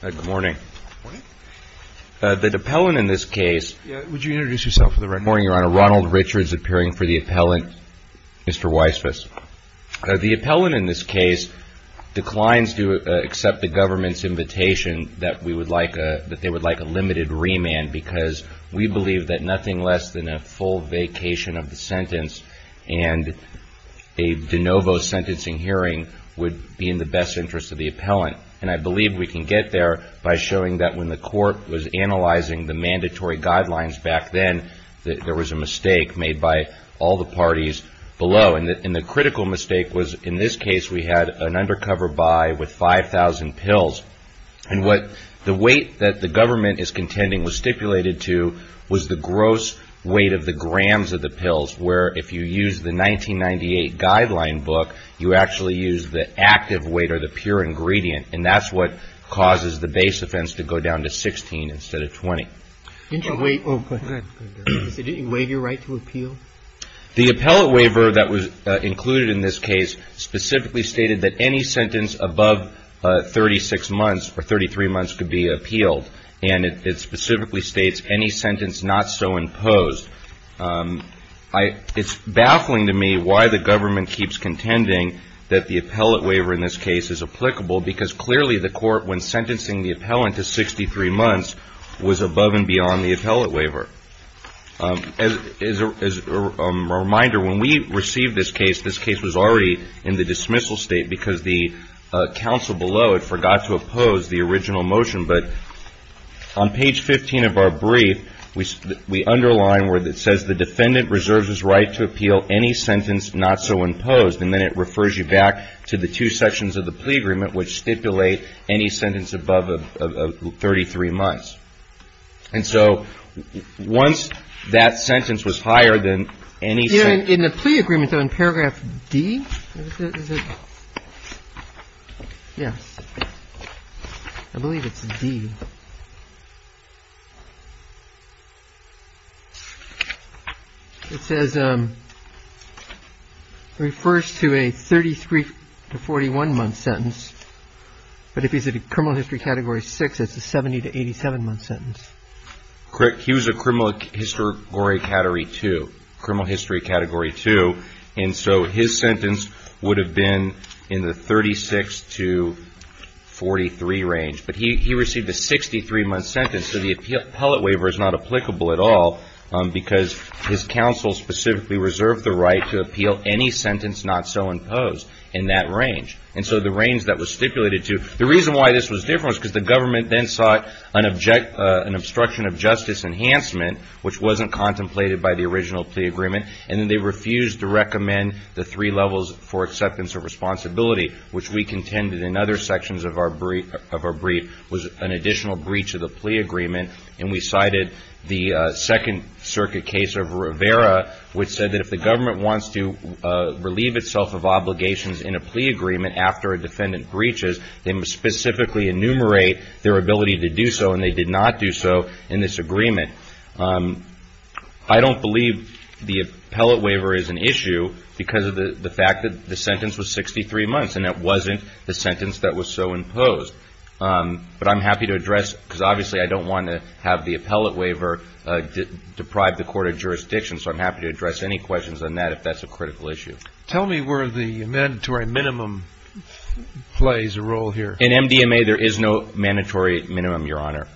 The appellant in this case declines to accept the government's invitation that they would like a limited remand because we believe that nothing less than a full vacation of the sentence and a de novo sentencing hearing would be in the best interest of the appellant. And I believe we can get there by showing that when the court was analyzing the mandatory guidelines back then, there was a mistake made by all the parties below. And the critical mistake was in this case, we had an undercover buy with 5,000 pills. And what the weight that the government is contending was stipulated to was the gross weight of the grams of the pills, where if you use the 1998 guideline book, you actually use the active weight or the pure ingredient. And that's what causes the base offense to go down to 16 instead of 20. Did you waive your right to appeal? The appellate waiver that was included in this case specifically stated that any sentence above 36 months or 33 months could be appealed. And it specifically states any sentence not so imposed. It's baffling to me why the government keeps contending that the appellate waiver in this case is applicable because clearly the court when sentencing the appellant to 63 months was above and beyond the appellate waiver. As a reminder, when we received this case, this case was already in the dismissal state because the counsel below had forgot to oppose the original motion. But on page 15 of our brief, we underline where it says the defendant reserves his right to appeal any sentence not so imposed. And then it refers you back to the two sections of the plea agreement which stipulate any sentence above 33 months. And so once that sentence was higher than any sentence... But if he's a criminal history category 6, that's a 70 to 87-month sentence. Correct. He was a criminal history category 2. And so his sentence would have been in the 36 to 43 range. But he received a 63-month sentence, so the appellate waiver is not applicable at all because his counsel specifically reserved the right to appeal any sentence not so imposed. And so the range that was stipulated to... The reason why this was different was because the government then sought an obstruction of justice enhancement which wasn't contemplated by the original plea agreement. And then they refused to recommend the three levels for acceptance of responsibility which we contended in other sections of our brief was an additional breach of the plea agreement. And we cited the Second Circuit case of Rivera which said that if the government wants to relieve itself of obligations in a plea agreement after a defendant breaches, they must specifically enumerate their ability to do so and they did not do so in this agreement. I don't believe the appellate waiver is an issue because of the fact that the sentence was 63 months and it wasn't the sentence that was so imposed. But I'm happy to address because obviously I don't want to have the appellate waiver deprive the court of jurisdiction so I'm happy to address any questions on that if that's a critical issue. Tell me where the mandatory minimum plays a role here. In MDMA there is no mandatory minimum, Your Honor.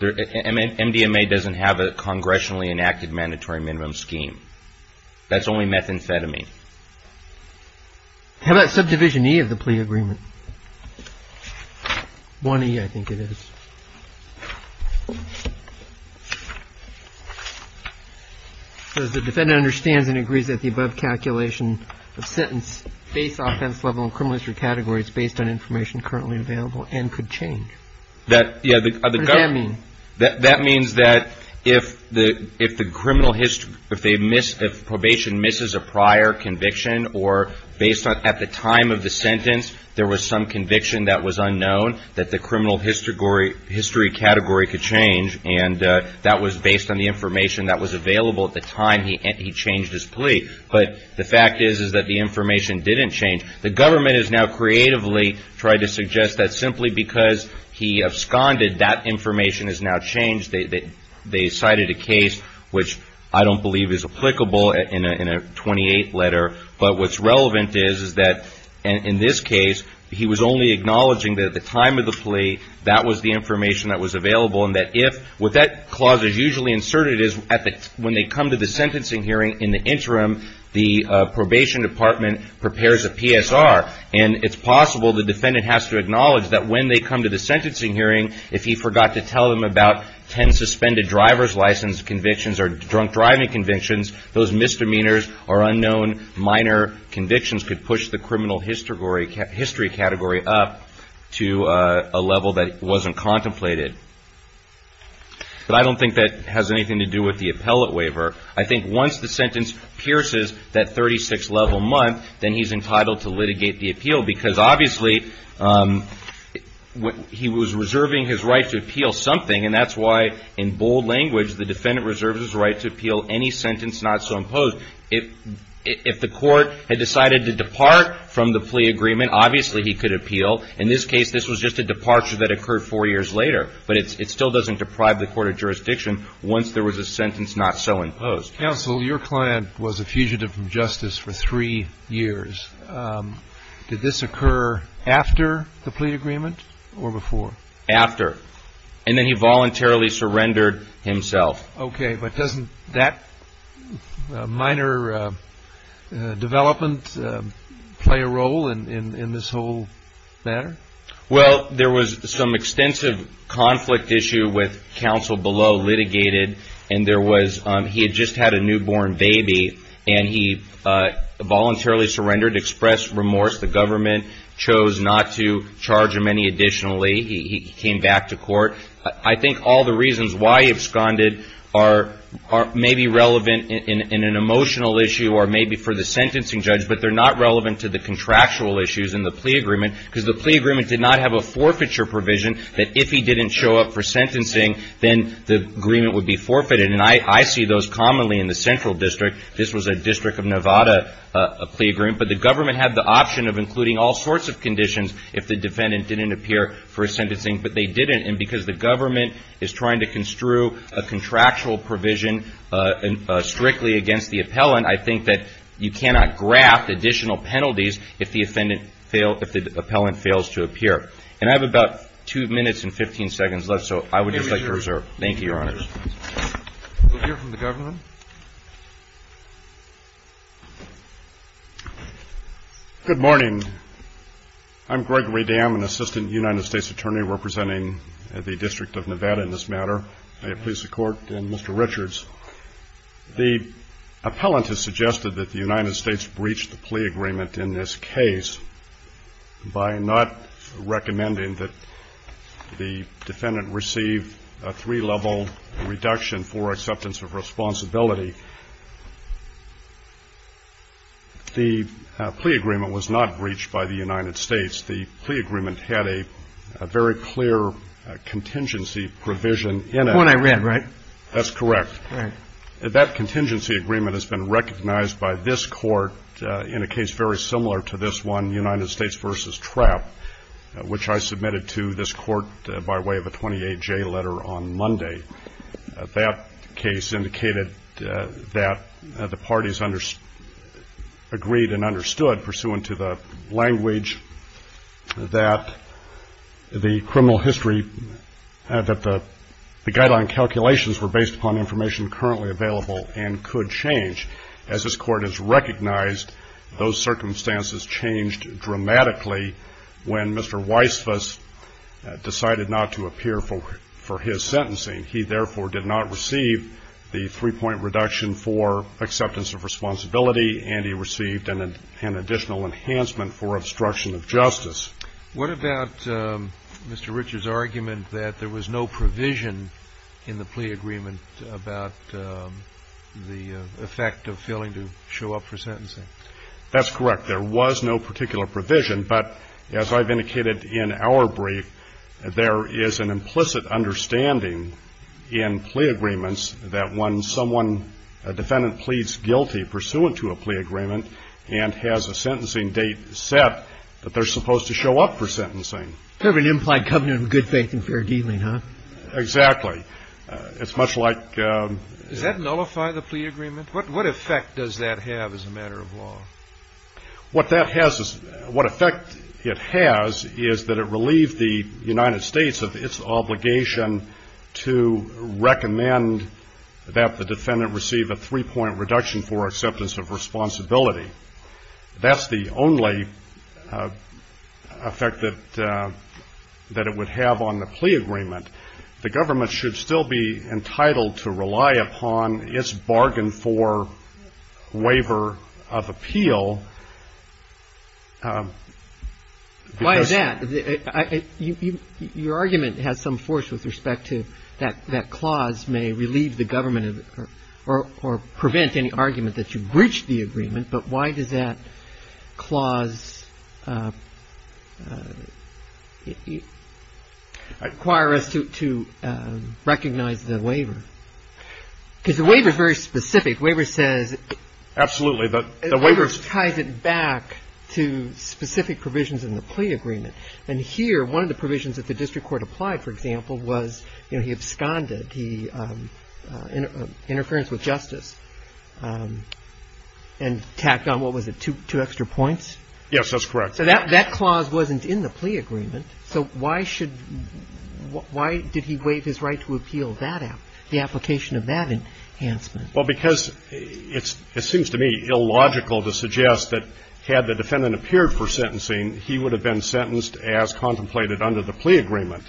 MDMA doesn't have a congressionally enacted mandatory minimum scheme. That's only methamphetamine. How about subdivision E of the plea agreement? 1E I think it is. The defendant understands and agrees that the above calculation of sentence based offense level and criminal history categories based on information currently available and could change. What does that mean? That means that if probation misses a prior conviction or at the time of the sentence there was some conviction that was unknown that the criminal history category could change and that was based on the information that was available at the time he changed his plea. But the fact is that the information didn't change. The government has now creatively tried to suggest that simply because he absconded that information has now changed. They cited a case which I don't believe is applicable in a 28 letter but what's relevant is that in this case he was only acknowledging that at the time of the plea that was the information that was available. What that clause is usually inserted is when they come to the sentencing hearing in the interim the probation department prepares a PSR and it's possible the defendant has to acknowledge that when they come to the sentencing hearing if he forgot to tell them about 10 suspended driver's license convictions or drunk driving convictions those misdemeanors or unknown minor convictions could push the criminal history category up to a level that wasn't contemplated. But I don't think that has anything to do with the appellate waiver. I think once the sentence pierces that 36 level month then he's entitled to litigate the appeal because obviously he was reserving his right to appeal something and that's why in bold language the defendant reserves his right to appeal any sentence not so imposed. So if the court had decided to depart from the plea agreement obviously he could appeal. In this case this was just a departure that occurred four years later but it still doesn't deprive the court of jurisdiction once there was a sentence not so imposed. Counsel your client was a fugitive from justice for three years. Did this occur after the plea agreement or before? After and then he voluntarily surrendered himself. Okay but doesn't that minor development play a role in this whole matter? Well there was some extensive conflict issue with counsel below litigated and there was he had just had a newborn baby and he voluntarily surrendered expressed remorse the government chose not to charge him any additionally he came back to court. I think all the reasons why he absconded are maybe relevant in an emotional issue or maybe for the sentencing judge but they're not relevant to the contractual issues in the plea agreement because the plea agreement did not have a forfeiture provision that if he didn't show up for sentencing then the agreement would be forfeited and I see those commonly in the central district. This was a district of Nevada plea agreement but the government had the option of including all sorts of conditions if the defendant didn't appear for sentencing but they didn't and because the government is trying to construe a contractual provision strictly against the appellant I think that you cannot graft additional penalties if the appellant fails to appear. And I have about 2 minutes and 15 seconds left so I would just like to reserve. Thank you, Your Honor. We'll hear from the government. Good morning. I'm Gregory Dam, an assistant United States Attorney representing the District of Nevada in this matter. May it please the Court and Mr. Richards. The appellant has suggested that the United States breached the plea agreement in this case by not recommending that the defendant receive a three-level reduction for acceptance of responsibility. The plea agreement was not breached by the United States. The plea agreement had a very clear contingency provision in it. The one I read, right? That's correct. That contingency agreement has been recognized by this Court in a case very similar to this one, United States v. Trapp, which I submitted to this Court by way of a 28-J letter on Monday. That case indicated that the parties agreed and understood, pursuant to the language, that the criminal history, that the guideline calculations were based upon information currently available and could change. As this Court has recognized, those circumstances changed dramatically when Mr. Weissfuss decided not to appear for his sentencing. He, therefore, did not receive the three-point reduction for acceptance of responsibility, and he received an additional enhancement for obstruction of justice. What about Mr. Richard's argument that there was no provision in the plea agreement about the effect of failing to show up for sentencing? That's correct. There was no particular provision. But as I've indicated in our brief, there is an implicit understanding in plea agreements that when someone, a defendant pleads guilty pursuant to a plea agreement and has a sentencing date set, that they're supposed to show up for sentencing. Sort of an implied covenant of good faith and fair dealing, huh? Exactly. It's much like — Does that nullify the plea agreement? What effect does that have as a matter of law? What effect it has is that it relieved the United States of its obligation to recommend that the defendant receive a three-point reduction for acceptance of responsibility. That's the only effect that it would have on the plea agreement. The government should still be entitled to rely upon its bargain for waiver of appeal. Why is that? Your argument has some force with respect to that that clause may relieve the government or prevent any argument that you've breached the agreement. But why does that clause require us to recognize the waiver? Because the waiver is very specific. Waiver says — Absolutely. The waiver — Waiver ties it back to specific provisions in the plea agreement. And here, one of the provisions that the district court applied, for example, was, you know, he absconded, interference with justice. And tacked on, what was it, two extra points? Yes, that's correct. So that clause wasn't in the plea agreement. So why should — why did he waive his right to appeal that — the application of that enhancement? Well, because it seems to me illogical to suggest that had the defendant appeared for sentencing, he would have been sentenced as contemplated under the plea agreement.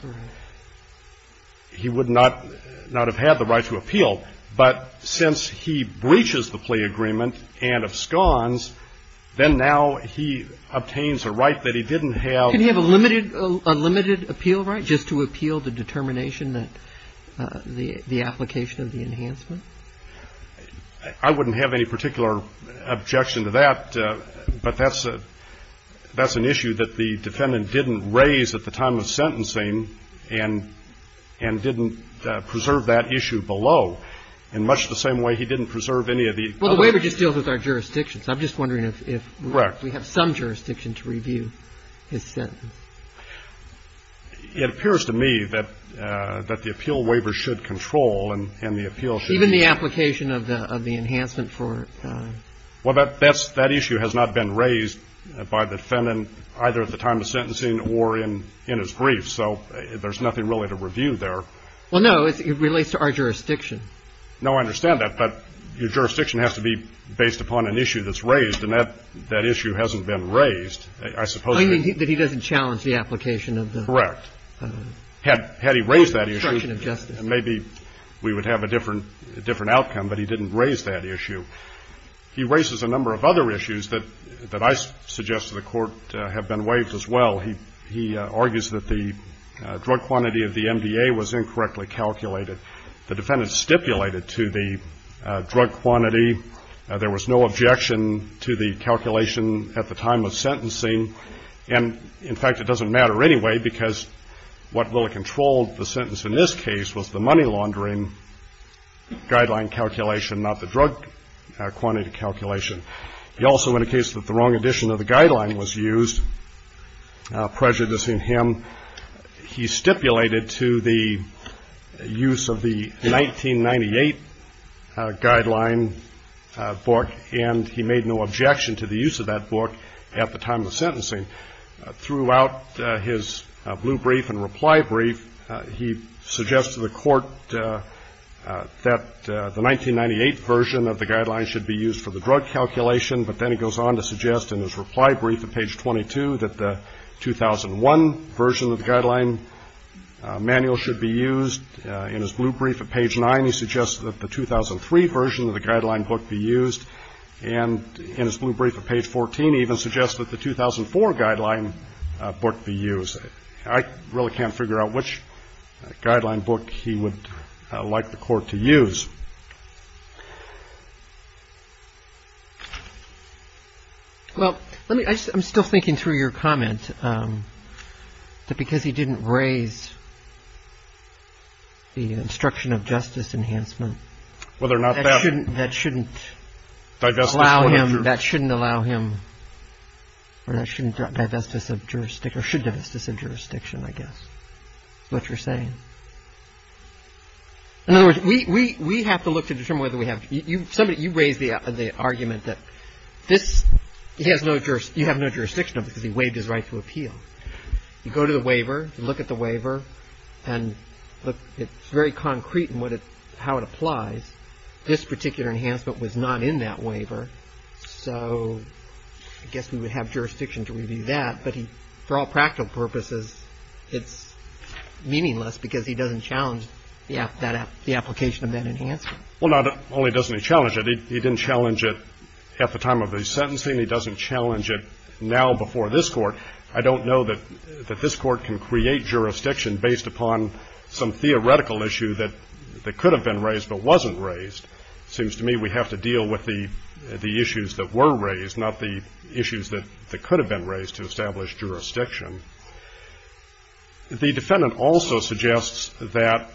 He would not have had the right to appeal. But since he breaches the plea agreement and absconds, then now he obtains a right that he didn't have — Couldn't he have a limited — a limited appeal right just to appeal the determination that — the application of the enhancement? I wouldn't have any particular objection to that. But that's an issue that the defendant didn't raise at the time of sentencing and didn't preserve that issue below, in much the same way he didn't preserve any of the other — Well, the waiver just deals with our jurisdictions. I'm just wondering if — Correct. We have some jurisdiction to review his sentence. It appears to me that the appeal waiver should control and the appeal should — Even the application of the enhancement for — Well, that issue has not been raised by the defendant either at the time of sentencing or in his brief. So there's nothing really to review there. Well, no. It relates to our jurisdiction. No, I understand that. But your jurisdiction has to be based upon an issue that's raised, and that issue hasn't been raised. I suppose — You mean that he doesn't challenge the application of the — Correct. Had he raised that issue, maybe we would have a different outcome. But he didn't raise that issue. He raises a number of other issues that I suggest to the Court have been waived as well. He argues that the drug quantity of the MDA was incorrectly calculated. The defendant stipulated to the drug quantity there was no objection to the calculation at the time of sentencing. And, in fact, it doesn't matter anyway because what really controlled the sentence in this case was the money laundering guideline calculation, not the drug quantity calculation. He also, in a case that the wrong edition of the guideline was used, prejudicing him, he stipulated to the use of the 1998 guideline book, and he made no objection to the use of that book at the time of the sentencing. Throughout his blue brief and reply brief, he suggests to the Court that the 1998 version of the guideline should be used for the drug calculation, but then he goes on to suggest in his reply brief at page 22 that the 2001 version of the guideline manual should be used. In his blue brief at page 9, he suggests that the 2003 version of the guideline book be used. And in his blue brief at page 14, he even suggests that the 2004 guideline book be used. I really can't figure out which guideline book he would like the Court to use. Well, I'm still thinking through your comment that because he didn't raise the instruction of justice enhancement, that shouldn't allow him, or that shouldn't divest us of jurisdiction, I guess, is what you're saying. In other words, we have to look to determine whether we have to. You raised the argument that you have no jurisdiction because he waived his right to appeal. You go to the waiver, you look at the waiver, and it's very concrete in how it applies. This particular enhancement was not in that waiver, so I guess we would have jurisdiction to review that. But for all practical purposes, it's meaningless because he doesn't challenge the application of that enhancement. Well, not only doesn't he challenge it. He didn't challenge it at the time of the sentencing. He doesn't challenge it now before this Court. I don't know that this Court can create jurisdiction based upon some theoretical issue that could have been raised but wasn't raised. It seems to me we have to deal with the issues that were raised, not the issues that could have been raised to establish jurisdiction. The defendant also suggests that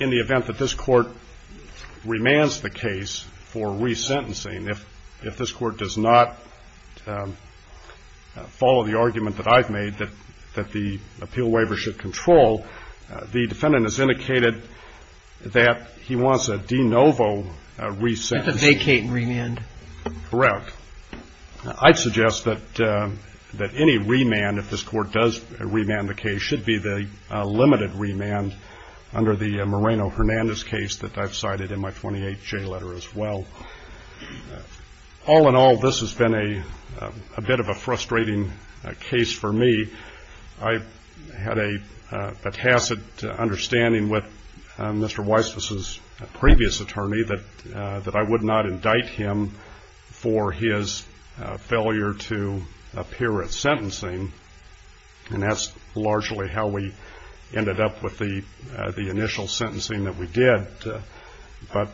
in the event that this Court remands the case for resentencing, if this Court does not follow the argument that I've made that the appeal waiver should control, the defendant has indicated that he wants a de novo resentence. That's a vacating remand. Correct. I'd suggest that any remand, if this Court does remand the case, should be the limited remand under the Moreno-Hernandez case that I've cited in my 28-J letter as well. All in all, this has been a bit of a frustrating case for me. I had a tacit understanding with Mr. Weiss's previous attorney that I would not indict him for his failure to appear at sentencing, and that's largely how we ended up with the initial sentencing that we did. But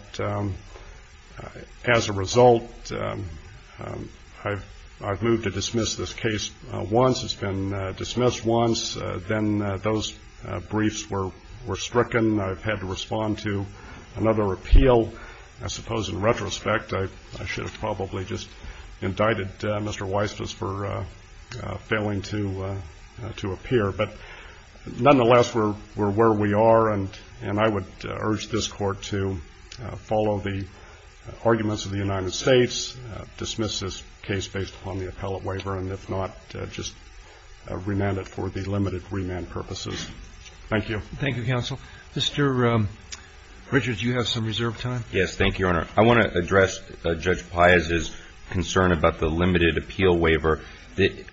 as a result, I've moved to dismiss this case once. It's been dismissed once. Then those briefs were stricken. I've had to respond to another appeal. I suppose in retrospect, I should have probably just indicted Mr. Weiss for failing to appear. But nonetheless, we're where we are, and I would urge this Court to follow the arguments of the United States, dismiss this case based upon the appellate waiver, and if not, just remand it for the limited remand purposes. Thank you, counsel. Mr. Richards, you have some reserve time. Yes, thank you, Your Honor. I want to address Judge Piazza's concern about the limited appeal waiver.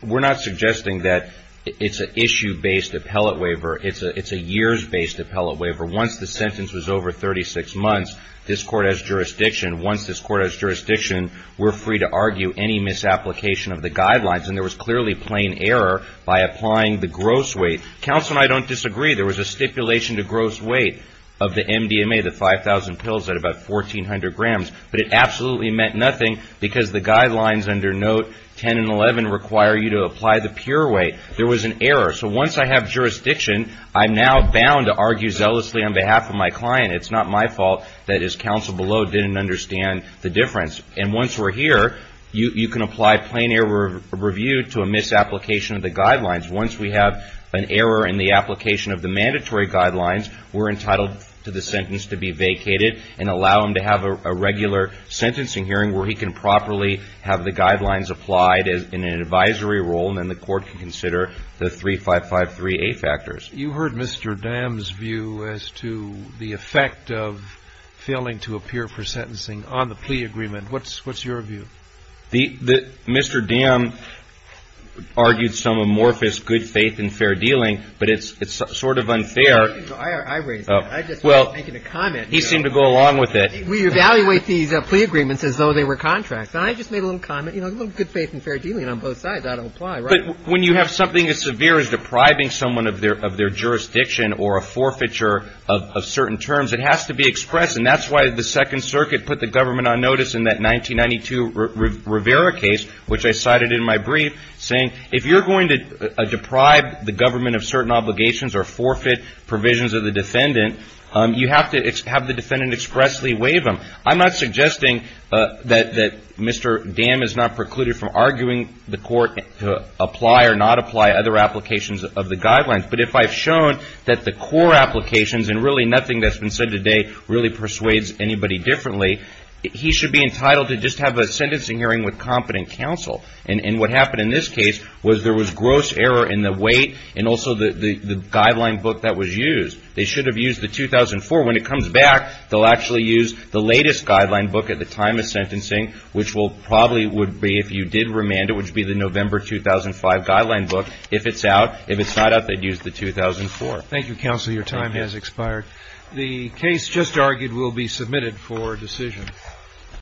We're not suggesting that it's an issue-based appellate waiver. It's a years-based appellate waiver. Once the sentence was over 36 months, this Court has jurisdiction. Once this Court has jurisdiction, we're free to argue any misapplication of the guidelines, and there was clearly plain error by applying the gross weight. Counsel and I don't disagree. There was a stipulation to gross weight of the MDMA, the 5,000 pills, at about 1,400 grams, but it absolutely meant nothing because the guidelines under Note 10 and 11 require you to apply the pure weight. There was an error. So once I have jurisdiction, I'm now bound to argue zealously on behalf of my client. It's not my fault that his counsel below didn't understand the difference. And once we're here, you can apply plain error review to a misapplication of the guidelines. Once we have an error in the application of the mandatory guidelines, we're entitled to the sentence to be vacated and allow him to have a regular sentencing hearing where he can properly have the guidelines applied in an advisory role, and then the Court can consider the 3553A factors. You heard Mr. Dam's view as to the effect of failing to appear for sentencing on the plea agreement. What's your view? Mr. Dam argued some amorphous good faith and fair dealing, but it's sort of unfair. I raised that. I just wasn't making a comment. He seemed to go along with it. We evaluate these plea agreements as though they were contracts. I just made a little comment, you know, good faith and fair dealing on both sides. I don't apply. But when you have something as severe as depriving someone of their jurisdiction or a forfeiture of certain terms, it has to be expressed, and that's why the Second Circuit put the government on notice in that 1992 Rivera case, which I cited in my brief, saying, if you're going to deprive the government of certain obligations or forfeit provisions of the defendant, you have to have the defendant expressly waive them. I'm not suggesting that Mr. Dam is not precluded from arguing the Court to apply or not apply other applications of the guidelines, but if I've shown that the core applications and really nothing that's been said today really persuades anybody differently, he should be entitled to just have a sentencing hearing with competent counsel. And what happened in this case was there was gross error in the weight and also the guideline book that was used. They should have used the 2004. When it comes back, they'll actually use the latest guideline book at the time of sentencing, which probably would be, if you did remand it, which would be the November 2005 guideline book. If it's out, if it's not out, they'd use the 2004. Thank you, counsel. Your time has expired. The case just argued will be submitted for decision.